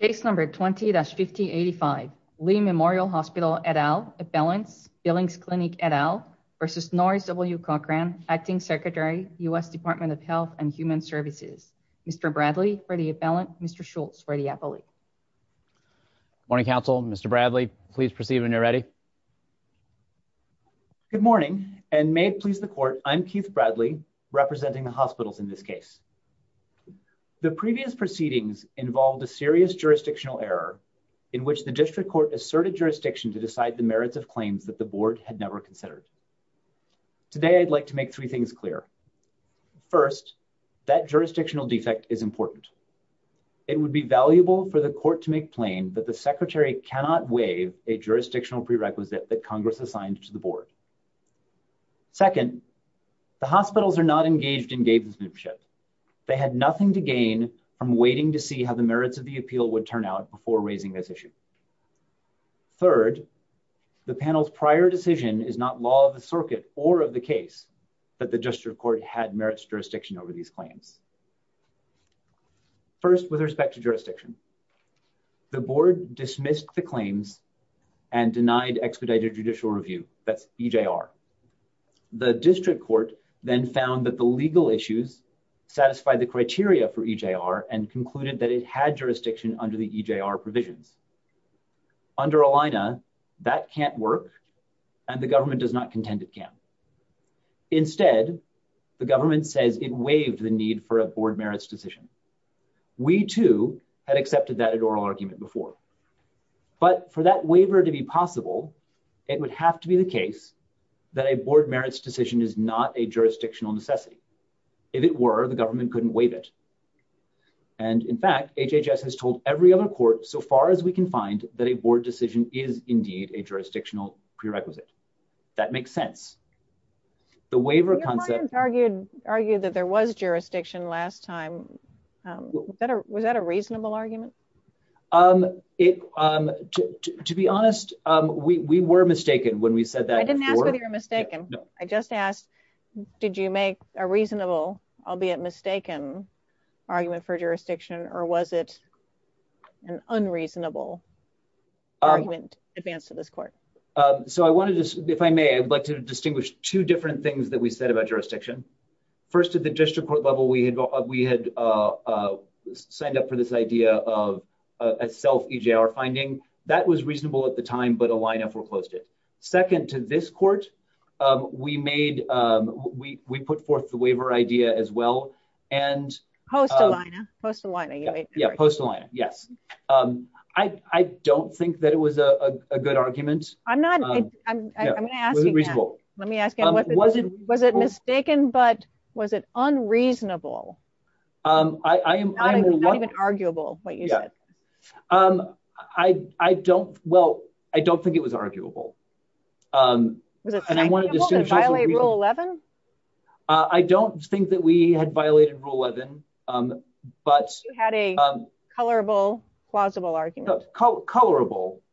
v. Norris W. Cochran, Acting Secretary, U.S. Department of Health and Human Services, Mr. Bradley for the appellant, Mr. Schultz for the appellate. Morning Council, Mr. Bradley, please proceed when you're ready. Good morning, and may it please the court, I'm Keith Bradley, representing the hospitals in this case. The previous proceedings involved a serious jurisdictional error in which the district court asserted jurisdiction to decide the merits of claims that the board had never considered. Today I'd like to make three things clear. First, that jurisdictional defect is important. It would be valuable for the court to make plain that the secretary cannot waive a jurisdictional prerequisite that Congress assigned to the board. Second, the hospitals are not engaged in gavensmanship. They had nothing to gain from waiting to see how the merits of the appeal would turn out before raising this issue. Third, the panel's prior decision is not law of the circuit or of the case, but the district court had merits jurisdiction over these claims. First, with respect to jurisdiction. The board dismissed the claims and denied expedited judicial review, that's EJR. The district court then found that the legal issues satisfied the criteria for EJR and concluded that it had jurisdiction under the EJR provisions. Under ELINA, that can't work, and the government does not contend it can. Instead, the government says it waived the need for a board merits decision. We, too, had accepted that in oral argument before. But for that waiver to be possible, it would have to be the case that a board merits decision is not a jurisdictional necessity. If it were, the government couldn't waive it. And in fact, HHS has told every other court so far as we can find that a board decision is indeed a jurisdictional prerequisite. That makes sense. The waiver concept... Your client argued that there was jurisdiction last time. Was that a reasonable argument? To be honest, we were mistaken when we said that before. I didn't ask whether you were mistaken. I just asked, did you make a reasonable, albeit mistaken, argument for jurisdiction, or was it an unreasonable argument advanced to this court? If I may, I would like to distinguish two different things that we said about jurisdiction. First, at the district court level, we had signed up for this idea of a self-EJR finding. That was reasonable at the time, but ELINA foreclosed it. Second, to this court, we put forth the waiver idea as well. Post-ELINA. Yeah, post-ELINA, yes. I don't think that it was a good argument. I'm going to ask you that. Was it reasonable? Was it mistaken, but was it unreasonable? Not even arguable, what you said. Well, I don't think it was arguable. Was it arguable to violate Rule 11? I don't think that we had violated Rule 11, but... Colorable,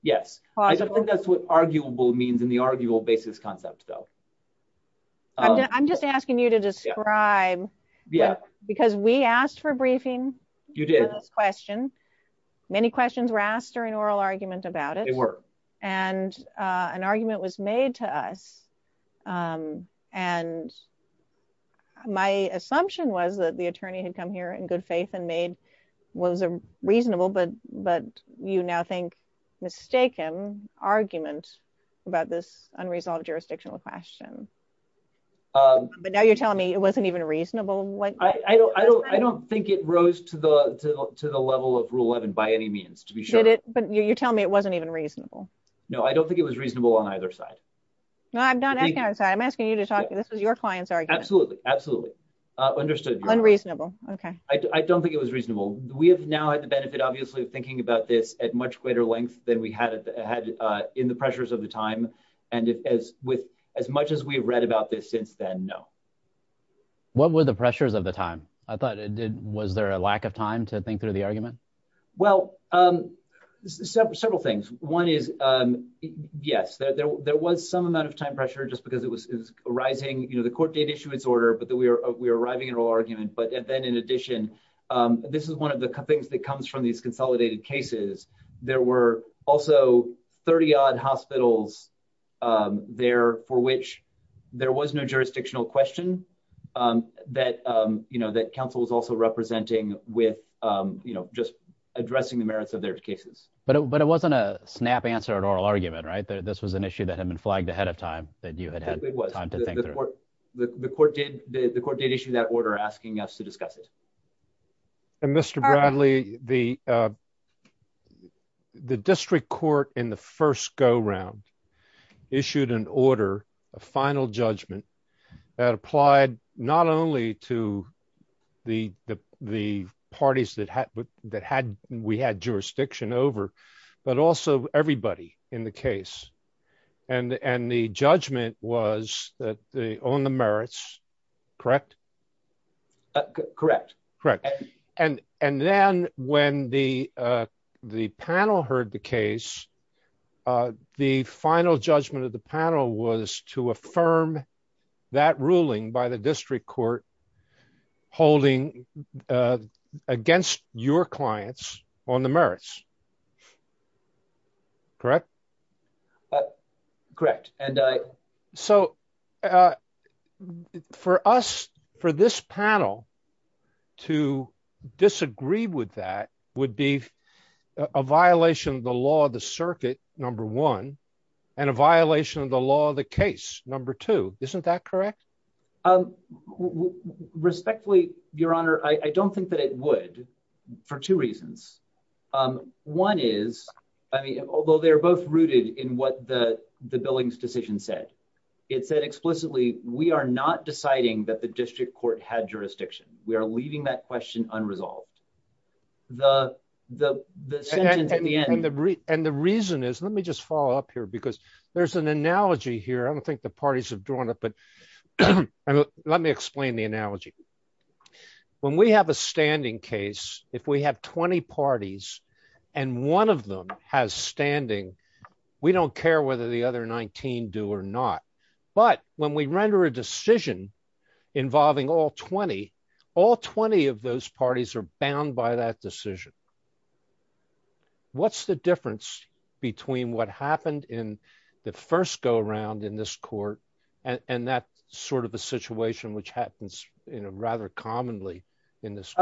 yes. I don't think that's what arguable means in the arguable basis concept, though. I'm just asking you to describe, because we asked for a briefing on this question. Many questions were asked during oral argument about it. They were. And an argument was made to us. And my assumption was that the attorney had come here in good faith and made what was reasonable, but you now think mistaken argument about this unresolved jurisdictional question. But now you're telling me it wasn't even reasonable? I don't think it rose to the level of Rule 11 by any means, to be sure. But you're telling me it wasn't even reasonable. No, I don't think it was reasonable on either side. No, I'm not asking either side. I'm asking you to talk. This was your client's argument. Absolutely. Understood. Unreasonable. Okay. I don't think it was reasonable. We have now had the benefit, obviously, of thinking about this at much greater length than we had in the pressures of the time. And as much as we've read about this since then, no. What were the pressures of the time? I thought it did. Was there a lack of time to think through the argument? Well, several things. One is, yes, there was some amount of time pressure just because it was arising. You know, the court did issue its order, but we were arriving at an argument. But then, in addition, this is one of the things that comes from these consolidated cases. There were also 30-odd hospitals there for which there was no jurisdictional question that, you know, that counsel was also representing with, you know, just addressing the merits of their cases. But it wasn't a snap answer at oral argument, right? This was an issue that had been flagged ahead of time that you had had time to think through. It was. The court did issue that order asking us to discuss it. Mr. Bradley, the district court in the first go-round issued an order, a final judgment, that applied not only to the parties that we had jurisdiction over, but also everybody in the case. And the judgment was on the merits, correct? Correct. Correct. And then when the panel heard the case, the final judgment of the panel was to affirm that ruling by the district court holding against your clients on the merits, correct? Correct. So for us, for this panel, to disagree with that would be a violation of the law of the circuit, number one, and a violation of the law of the case, number two. Isn't that correct? Respectfully, Your Honor, I don't think that it would for two reasons. One is, I mean, although they're both rooted in what the Billings decision said, it said explicitly, we are not deciding that the district court had jurisdiction. We are leaving that question unresolved. The sentence at the end. And the reason is, let me just follow up here, because there's an analogy here. I don't think the parties have drawn it, but let me explain the analogy. When we have a standing case, if we have 20 parties and one of them has standing, we don't care whether the other 19 do or not. But when we render a decision involving all 20, all 20 of those parties are bound by that decision. What's the difference between what happened in the first go around in this court and that sort of a situation which happens in a rather commonly in this.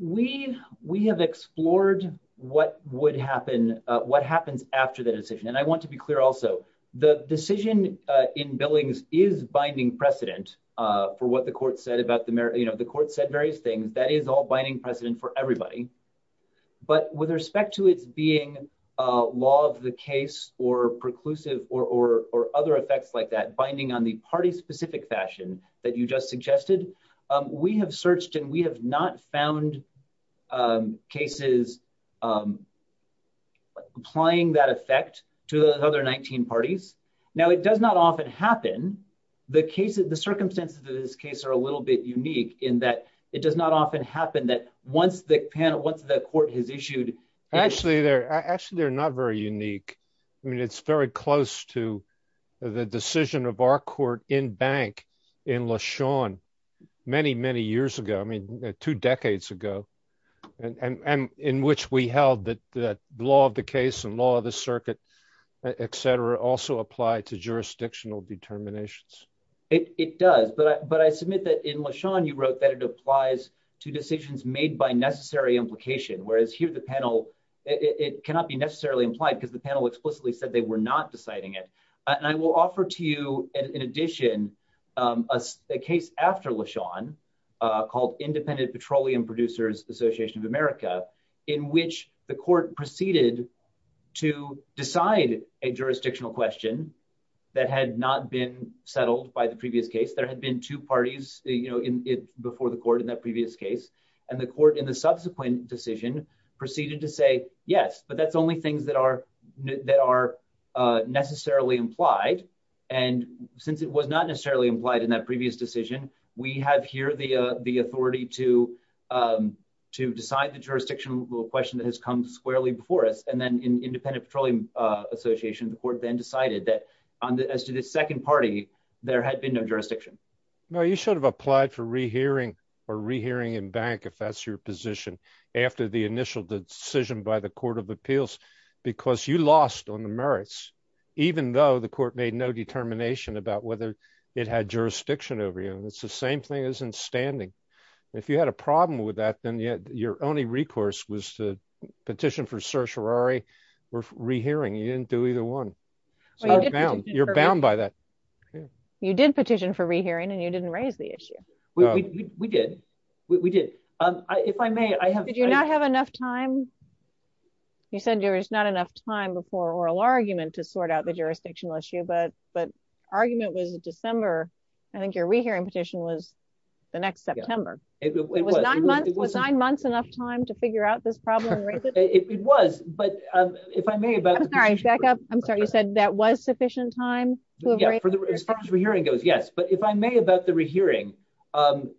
We we have explored what would happen, what happens after the decision, and I want to be clear. Also, the decision in Billings is binding precedent for what the court said about the, you know, the court said various things that is all binding precedent for everybody. But with respect to its being a law of the case or preclusive or or or other effects like that binding on the party specific fashion that you just suggested, we have searched and we have not found cases. Applying that effect to the other 19 parties. Now, it does not often happen. The case of the circumstances of this case are a little bit unique in that it does not often happen that once the panel once the court has issued. Actually, they're actually they're not very unique. I mean, it's very close to the decision of our court in bank in LaShawn many, many years ago. I mean, two decades ago, and in which we held that that law of the case and law of the circuit, etc. Also apply to jurisdictional determinations. It does, but but I submit that in LaShawn you wrote that it applies to decisions made by necessary implication, whereas here the panel. It cannot be necessarily implied because the panel explicitly said they were not deciding it. And I will offer to you. In addition, a case after LaShawn called Independent Petroleum Producers Association of America, in which the court proceeded to decide a jurisdictional question that had not been settled by the previous case. There had been two parties, you know, in it before the court in that previous case and the court in the subsequent decision proceeded to say yes, but that's only things that are that are necessarily implied and since it was not necessarily implied in that previous decision. We have here the the authority to to decide the jurisdictional question that has come squarely before us. And then Independent Petroleum Association, the court then decided that as to the second party, there had been no jurisdiction. No, you should have applied for rehearing or rehearing in bank if that's your position after the initial decision by the Court of Appeals, because you lost on the merits, even though the court made no determination about whether it had jurisdiction over you. And it's the same thing as in standing. If you had a problem with that, then your only recourse was to petition for certiorari or rehearing. You didn't do either one. You're bound by that. You did petition for rehearing and you didn't raise the issue. We did. We did. If I may, I have to do not have enough time. You said there was not enough time before oral argument to sort out the jurisdictional issue but but argument was December. I think your rehearing petition was the next September. Was nine months enough time to figure out this problem? It was, but if I may back up. I'm sorry, you said that was sufficient time? As far as rehearing goes, yes. But if I may, about the rehearing,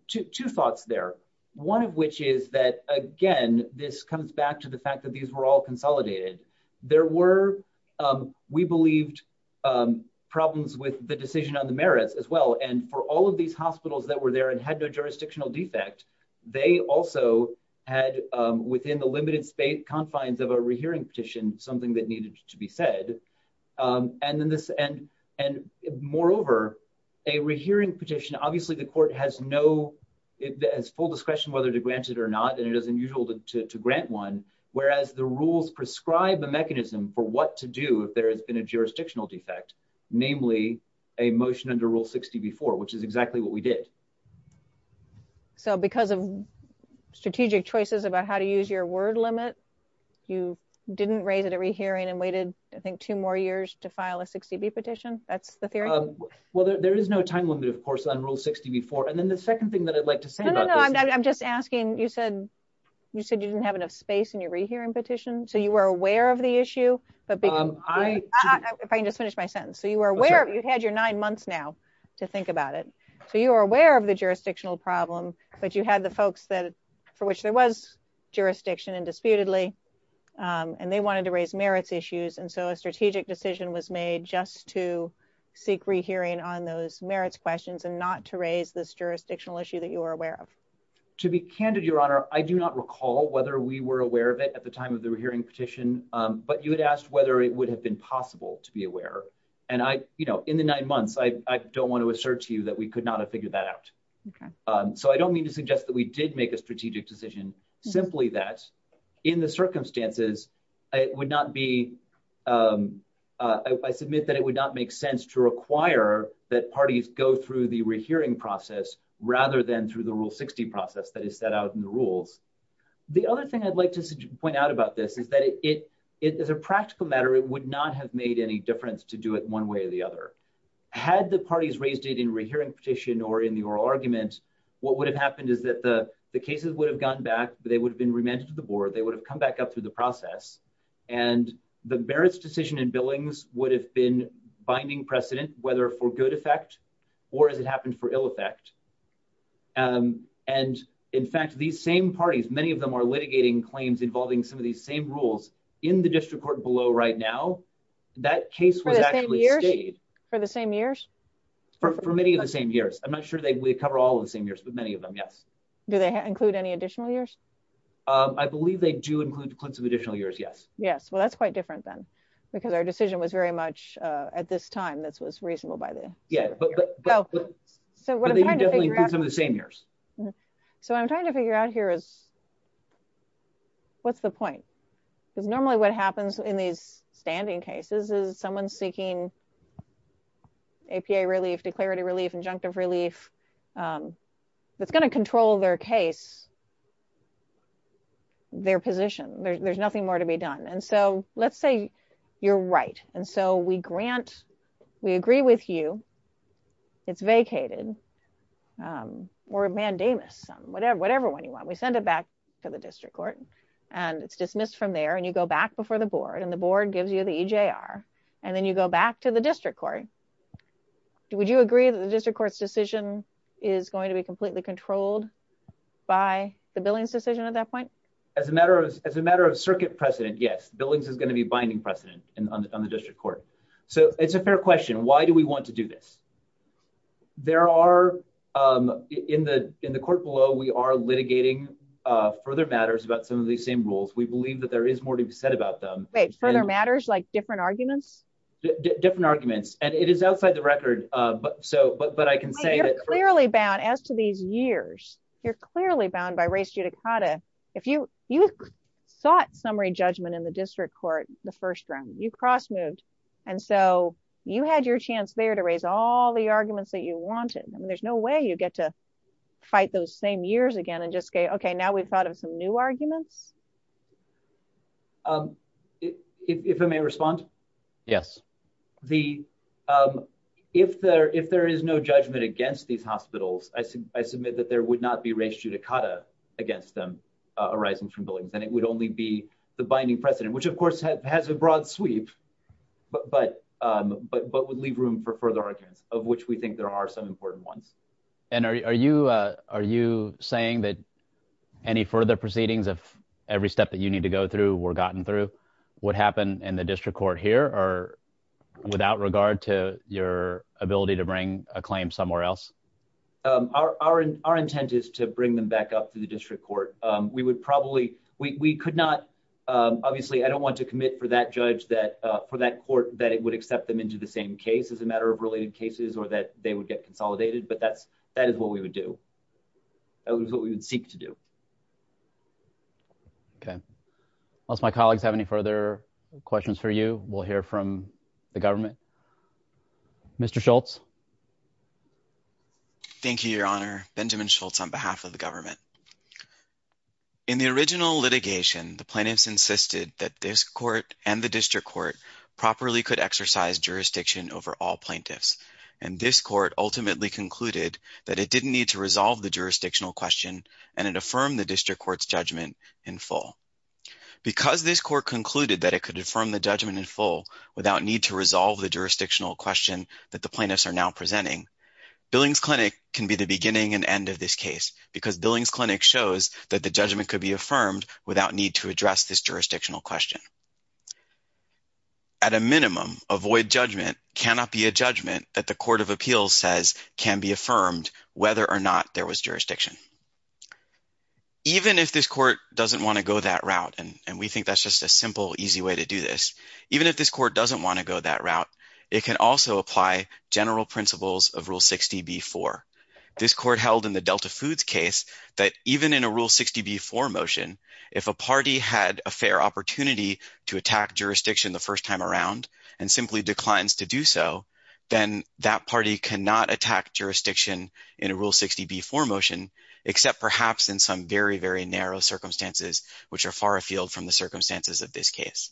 two thoughts there. One of which is that, again, this comes back to the fact that these were all consolidated. There were, we believed, problems with the decision on the merits as well. And for all of these hospitals that were there and had no jurisdictional defect, they also had, within the limited space confines of a rehearing petition, something that needed to be said. And moreover, a rehearing petition, obviously the court has full discretion whether to grant it or not, and it is unusual to grant one, whereas the rules prescribe a mechanism for what to do if there has been a jurisdictional defect, namely a motion under Rule 60 before, which is exactly what we did. So because of strategic choices about how to use your word limit, you didn't raise it at rehearing and waited, I think, two more years to file a 60B petition? That's the theory? Well, there is no time limit, of course, on Rule 60 before. And then the second thing that I'd like to say about this. I'm just asking, you said you didn't have enough space in your rehearing petition, so you were aware of the issue? If I can just finish my sentence. So you had your nine months now to think about it. So you were aware of the jurisdictional problem, but you had the folks for which there was jurisdiction indisputably, and they wanted to raise merits issues. And so a strategic decision was made just to seek rehearing on those merits questions and not to raise this jurisdictional issue that you were aware of. To be candid, Your Honor, I do not recall whether we were aware of it at the time of the rehearing petition, but you had asked whether it would have been possible to be aware. And I, you know, in the nine months, I don't want to assert to you that we could not have figured that out. So I don't mean to suggest that we did make a strategic decision, simply that in the circumstances, it would not be. I submit that it would not make sense to require that parties go through the rehearing process, rather than through the Rule 60 process that is set out in the rules. The other thing I'd like to point out about this is that it is a practical matter. It would not have made any difference to do it one way or the other. Had the parties raised it in rehearing petition or in the oral argument, what would have happened is that the cases would have gone back, they would have been remanded to the board, they would have come back up through the process. And the merits decision and billings would have been binding precedent, whether for good effect, or as it happened for ill effect. And, in fact, these same parties, many of them are litigating claims involving some of these same rules in the district court below right now, that case was actually stayed. For the same years? For many of the same years. I'm not sure they cover all of the same years, but many of them, yes. Do they include any additional years? I believe they do include some additional years, yes. Yes, well that's quite different then, because our decision was very much at this time, this was reasonable by the... But they do include some of the same years. So what I'm trying to figure out here is, what's the point? Because normally what happens in these standing cases is someone's seeking APA relief, declarative relief, injunctive relief, that's going to control their case, their position, there's nothing more to be done. And so let's say you're right, and so we grant, we agree with you, it's vacated, or mandamus, whatever one you want, we send it back to the district court, and it's dismissed from there, and you go back before the board, and the board gives you the EJR, and then you go back to the district court. Would you agree that the district court's decision is going to be completely controlled by the billings decision at that point? As a matter of circuit precedent, yes, billings is going to be binding precedent on the district court. So it's a fair question, why do we want to do this? There are, in the court below, we are litigating further matters about some of these same rules, we believe that there is more to be said about them. Wait, further matters, like different arguments? Different arguments, and it is outside the record, but I can say that... You're clearly bound, as to these years, you're clearly bound by res judicata. If you, you sought summary judgment in the district court, the first round, you cross moved. And so you had your chance there to raise all the arguments that you wanted, and there's no way you get to fight those same years again and just say, okay, now we've thought of some new arguments. If I may respond. Yes. If there is no judgment against these hospitals, I submit that there would not be res judicata against them arising from billings, and it would only be the binding precedent, which of course has a broad sweep, but would leave room for further arguments, of which we think there are some important ones. And are you, are you saying that any further proceedings, if every step that you need to go through were gotten through, would happen in the district court here, or without regard to your ability to bring a claim somewhere else? Our, our, our intent is to bring them back up to the district court. We would probably, we could not, obviously, I don't want to commit for that judge that, for that court, that it would accept them into the same case as a matter of related cases, or that they would get consolidated, but that's, that is what we would do. That was what we would seek to do. Okay. Unless my colleagues have any further questions for you, we'll hear from the government. Mr. Schultz. Thank you, Your Honor. Benjamin Schultz on behalf of the government. In the original litigation, the plaintiffs insisted that this court and the district court properly could exercise jurisdiction over all plaintiffs, and this court ultimately concluded that it didn't need to resolve the jurisdictional question, and it affirmed the district court's judgment in full. Because this court concluded that it could affirm the judgment in full, without need to resolve the jurisdictional question that the plaintiffs are now presenting, Billings Clinic can be the beginning and end of this case, because Billings Clinic shows that the judgment could be affirmed without need to address this jurisdictional question. At a minimum, a void judgment cannot be a judgment that the Court of Appeals says can be affirmed, whether or not there was jurisdiction. Even if this court doesn't want to go that route, and we think that's just a simple, easy way to do this, even if this court doesn't want to go that route, it can also apply general principles of Rule 60b-4. This court held in the Delta Foods case that even in a Rule 60b-4 motion, if a party had a fair opportunity to attack jurisdiction the first time around and simply declines to do so, then that party cannot attack jurisdiction in a Rule 60b-4 motion, except perhaps in some very, very narrow circumstances, which are far afield from the circumstances of this case.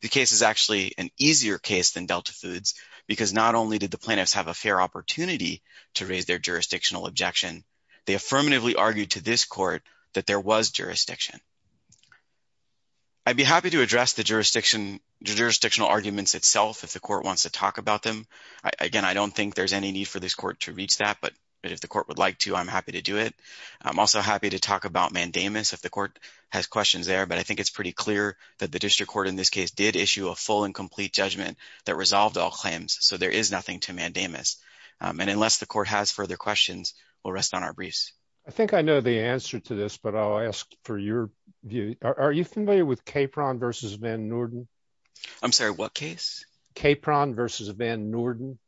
The case is actually an easier case than Delta Foods, because not only did the plaintiffs have a fair opportunity to raise their jurisdictional objection, they affirmatively argued to this court that there was jurisdiction. I'd be happy to address the jurisdictional arguments itself if the court wants to talk about them. Again, I don't think there's any need for this court to reach that, but if the court would like to, I'm happy to do it. I'm also happy to talk about mandamus if the court has questions there, but I think it's pretty clear that the district court in this case did issue a full and complete judgment that resolved all claims, so there is nothing to mandamus. And unless the court has further questions, we'll rest on our briefs. I think I know the answer to this, but I'll ask for your view. Are you familiar with Capron v. van Noorden? I'm sorry, what case? Capron v. van Noorden.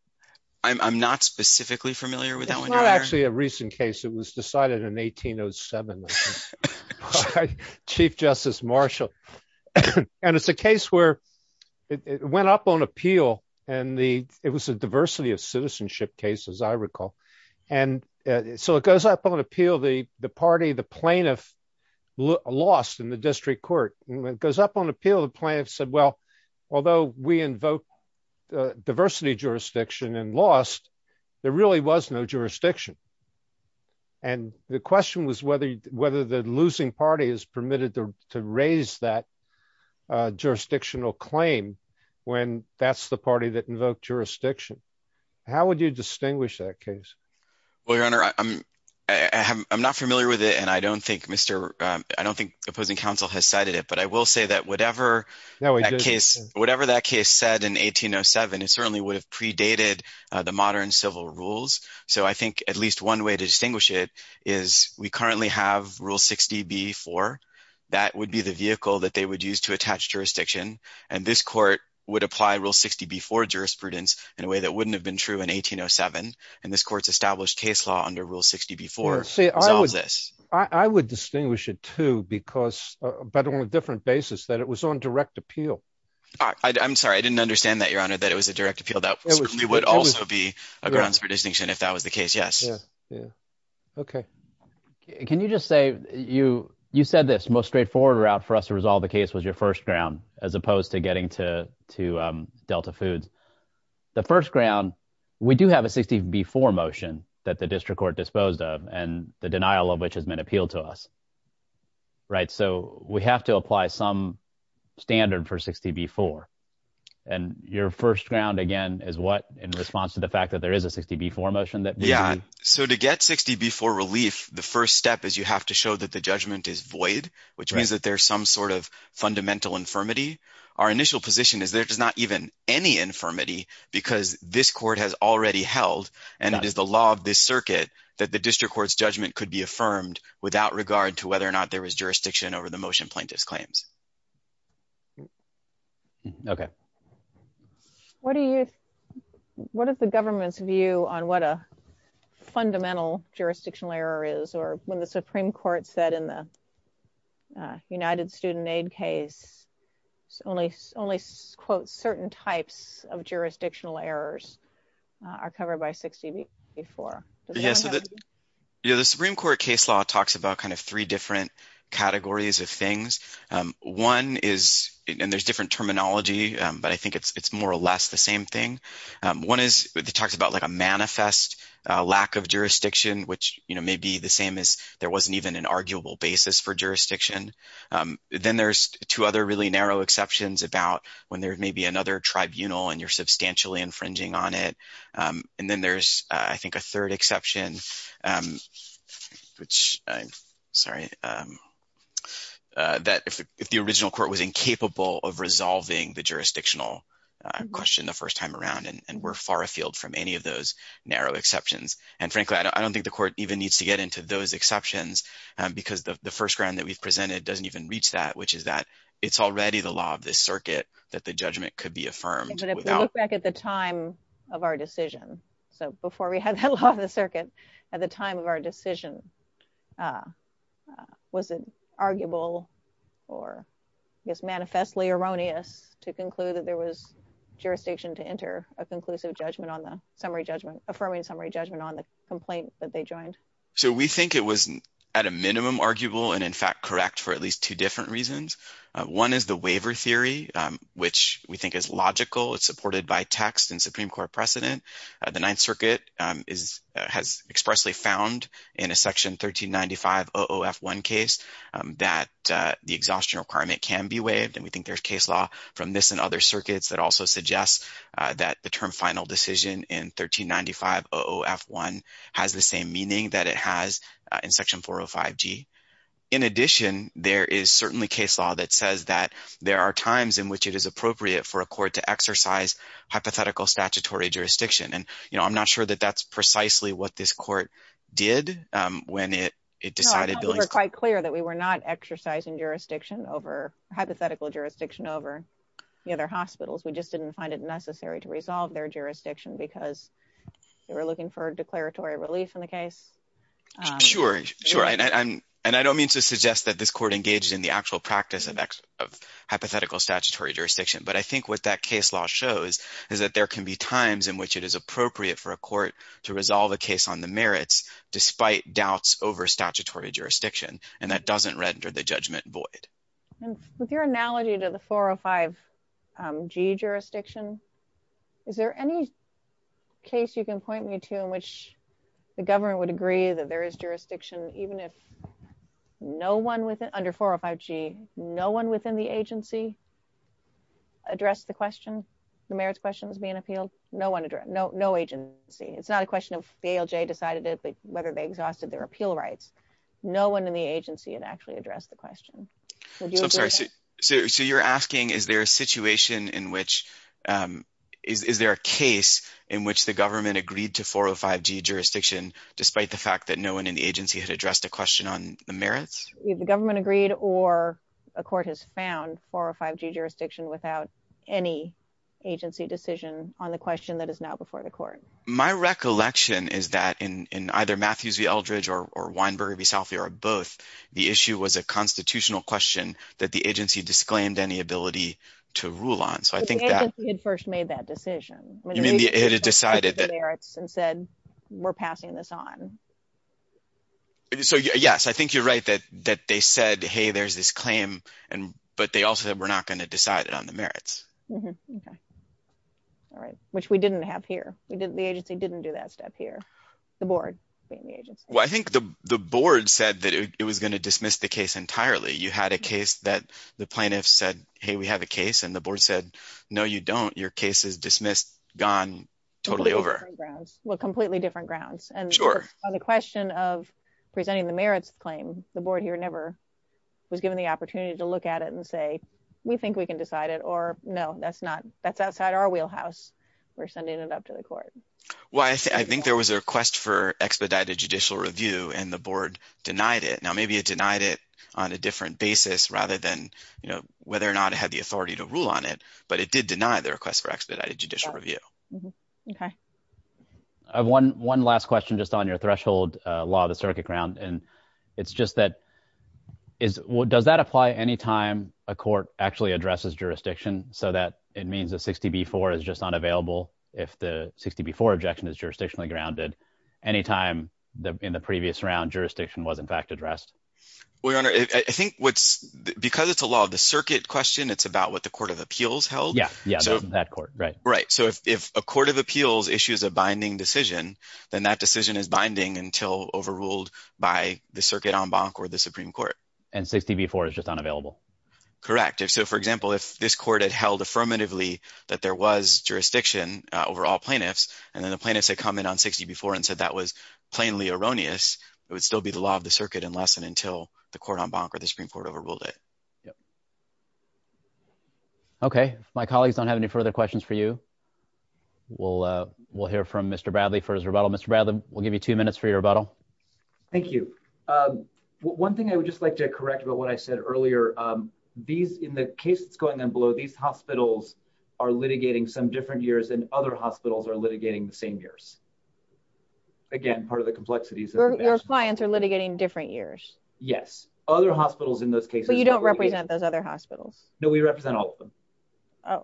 I'm not specifically familiar with that one. It's not actually a recent case. It was decided in 1807 by Chief Justice Marshall. And it's a case where it went up on appeal, and it was a diversity of citizenship case, as I recall. And so it goes up on appeal, the party, the plaintiff lost in the district court. It goes up on appeal, the plaintiff said, well, although we invoke diversity jurisdiction and lost, there really was no jurisdiction. And the question was whether the losing party is permitted to raise that jurisdictional claim when that's the party that invoked jurisdiction. How would you distinguish that case? Well, Your Honor, I'm not familiar with it, and I don't think opposing counsel has cited it, but I will say that whatever that case said in 1807, it certainly would have predated the modern civil rules. So I think at least one way to distinguish it is we currently have Rule 60b-4. That would be the vehicle that they would use to attach jurisdiction, and this court would apply Rule 60b-4 jurisprudence in a way that wouldn't have been true in 1807. And this court's established case law under Rule 60b-4 solves this. I would distinguish it, too, but on a different basis, that it was on direct appeal. I'm sorry, I didn't understand that, Your Honor, that it was a direct appeal. That certainly would also be a grounds for distinction if that was the case. Yes. Yeah. Okay. Can you just say you said this most straightforward route for us to resolve the case was your first ground as opposed to getting to Delta Foods. The first ground, we do have a 60b-4 motion that the district court disposed of and the denial of which has been appealed to us. Right. So we have to apply some standard for 60b-4. And your first ground, again, is what in response to the fact that there is a 60b-4 motion? Yeah. So to get 60b-4 relief, the first step is you have to show that the judgment is void, which means that there's some sort of fundamental infirmity. Our initial position is there is not even any infirmity because this court has already held and it is the law of this circuit that the district court's judgment could be affirmed without regard to whether or not there was jurisdiction over the motion plaintiff's claims. Okay. What are the government's view on what a fundamental jurisdictional error is or when the Supreme Court said in the United Student Aid case, only, quote, certain types of jurisdictional errors are covered by 60b-4? Yeah, so the Supreme Court case law talks about kind of three different categories of things. One is – and there's different terminology, but I think it's more or less the same thing. One is it talks about, like, a manifest lack of jurisdiction, which, you know, may be the same as there wasn't even an arguable basis for jurisdiction. Then there's two other really narrow exceptions about when there may be another tribunal and you're substantially infringing on it. And then there's, I think, a third exception, which – sorry – that if the original court was incapable of resolving the jurisdictional question the first time around and we're far afield from any of those narrow exceptions. And, frankly, I don't think the court even needs to get into those exceptions because the first ground that we've presented doesn't even reach that, which is that it's already the law of this circuit that the judgment could be affirmed without – So before we had that law of the circuit, at the time of our decision, was it arguable or, I guess, manifestly erroneous to conclude that there was jurisdiction to enter a conclusive judgment on the summary judgment – affirming summary judgment on the complaint that they joined? So we think it was at a minimum arguable and, in fact, correct for at least two different reasons. One is the waiver theory, which we think is logical. It's supported by text and Supreme Court precedent. The Ninth Circuit has expressly found in a Section 1395 OOF-1 case that the exhaustion requirement can be waived. And we think there's case law from this and other circuits that also suggests that the term final decision in 1395 OOF-1 has the same meaning that it has in Section 405G. In addition, there is certainly case law that says that there are times in which it is appropriate for a court to exercise hypothetical statutory jurisdiction. And I'm not sure that that's precisely what this court did when it decided – No, I thought we were quite clear that we were not exercising jurisdiction over – hypothetical jurisdiction over the other hospitals. We just didn't find it necessary to resolve their jurisdiction because they were looking for declaratory relief in the case. Sure, sure. And I don't mean to suggest that this court engaged in the actual practice of hypothetical statutory jurisdiction. But I think what that case law shows is that there can be times in which it is appropriate for a court to resolve a case on the merits despite doubts over statutory jurisdiction. And that doesn't render the judgment void. And with your analogy to the 405G jurisdiction, is there any case you can point me to in which the government would agree that there is jurisdiction, even if no one within – under 405G, no one within the agency addressed the question, the merits questions being appealed? No one addressed – no agency. It's not a question of the ALJ decided it, but whether they exhausted their appeal rights. No one in the agency had actually addressed the question. I'm sorry. So you're asking is there a situation in which – is there a case in which the government agreed to 405G jurisdiction despite the fact that no one in the agency had addressed a question on the merits? Either the government agreed or a court has found 405G jurisdiction without any agency decision on the question that is now before the court. My recollection is that in either Matthews v. Eldridge or Weinberger v. Salfi or both, the issue was a constitutional question that the agency disclaimed any ability to rule on. So I think that – But the agency had first made that decision. It had decided that – And said we're passing this on. So, yes, I think you're right that they said, hey, there's this claim, but they also said we're not going to decide it on the merits. All right, which we didn't have here. The agency didn't do that step here, the board being the agency. Well, I think the board said that it was going to dismiss the case entirely. You had a case that the plaintiffs said, hey, we have a case, and the board said, no, you don't. Your case is dismissed, gone, totally over. Well, completely different grounds. Sure. So the question of presenting the merits claim, the board here never was given the opportunity to look at it and say, we think we can decide it, or no, that's not – that's outside our wheelhouse. We're sending it up to the court. Well, I think there was a request for expedited judicial review, and the board denied it. Now, maybe it denied it on a different basis rather than whether or not it had the authority to rule on it, but it did deny the request for expedited judicial review. Okay. I have one last question just on your threshold law of the circuit ground, and it's just that – does that apply any time a court actually addresses jurisdiction so that it means a 60B-4 is just unavailable if the 60B-4 objection is jurisdictionally grounded any time in the previous round jurisdiction was in fact addressed? Well, your honor, I think what's – because it's a law of the circuit question, it's about what the court of appeals held. Yeah, that court, right. Right. So if a court of appeals issues a binding decision, then that decision is binding until overruled by the circuit en banc or the Supreme Court. And 60B-4 is just unavailable. Correct. So, for example, if this court had held affirmatively that there was jurisdiction over all plaintiffs, and then the plaintiffs had commented on 60B-4 and said that was plainly erroneous, it would still be the law of the circuit unless and until the court en banc or the Supreme Court overruled it. Yep. Okay. If my colleagues don't have any further questions for you, we'll hear from Mr. Bradley for his rebuttal. Mr. Bradley, we'll give you two minutes for your rebuttal. Thank you. One thing I would just like to correct about what I said earlier, these – in the case that's going on below, these hospitals are litigating some different years, and other hospitals are litigating the same years. Again, part of the complexity is that – Your clients are litigating different years. Yes. Other hospitals in those cases – But you don't represent those other hospitals. No, we represent all of them.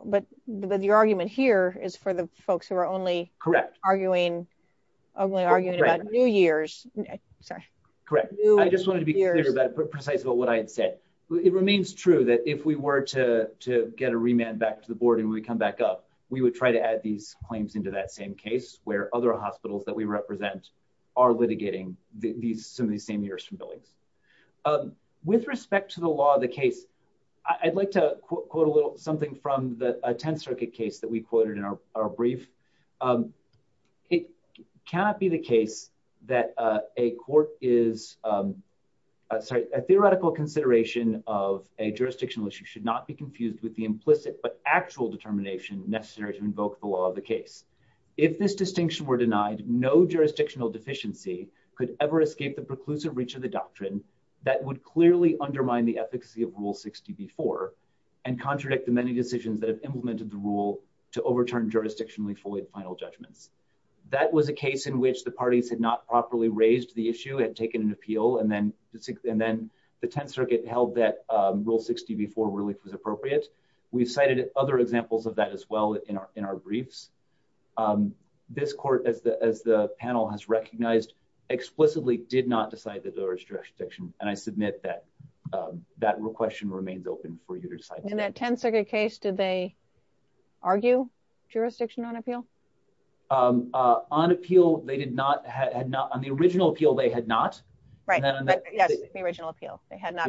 But your argument here is for the folks who are only – Correct. Arguing – only arguing about new years. Sorry. Correct. I just wanted to be clear about – precise about what I had said. It remains true that if we were to get a remand back to the board and we come back up, we would try to add these claims into that same case where other hospitals that we represent are litigating some of these same years from billings. With respect to the law of the case, I'd like to quote a little something from a Tenth Circuit case that we quoted in our brief. It cannot be the case that a court is – sorry, a theoretical consideration of a jurisdictional issue should not be confused with the implicit but actual determination necessary to invoke the law of the case. If this distinction were denied, no jurisdictional deficiency could ever escape the preclusive reach of the doctrine that would clearly undermine the efficacy of Rule 60b-4 and contradict the many decisions that have implemented the rule to overturn jurisdictionally void final judgments. That was a case in which the parties had not properly raised the issue, had taken an appeal, and then the Tenth Circuit held that Rule 60b-4 relief was appropriate. We cited other examples of that as well in our briefs. This court, as the panel has recognized, explicitly did not decide that there was jurisdiction, and I submit that that question remains open for you to decide. In that Tenth Circuit case, did they argue jurisdiction on appeal? On appeal, they did not – on the original appeal, they had not. Right. Yes, the original appeal. They had not.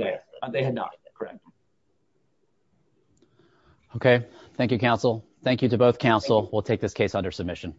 Okay. Thank you, counsel. Thank you to both counsel. We'll take this case under submission.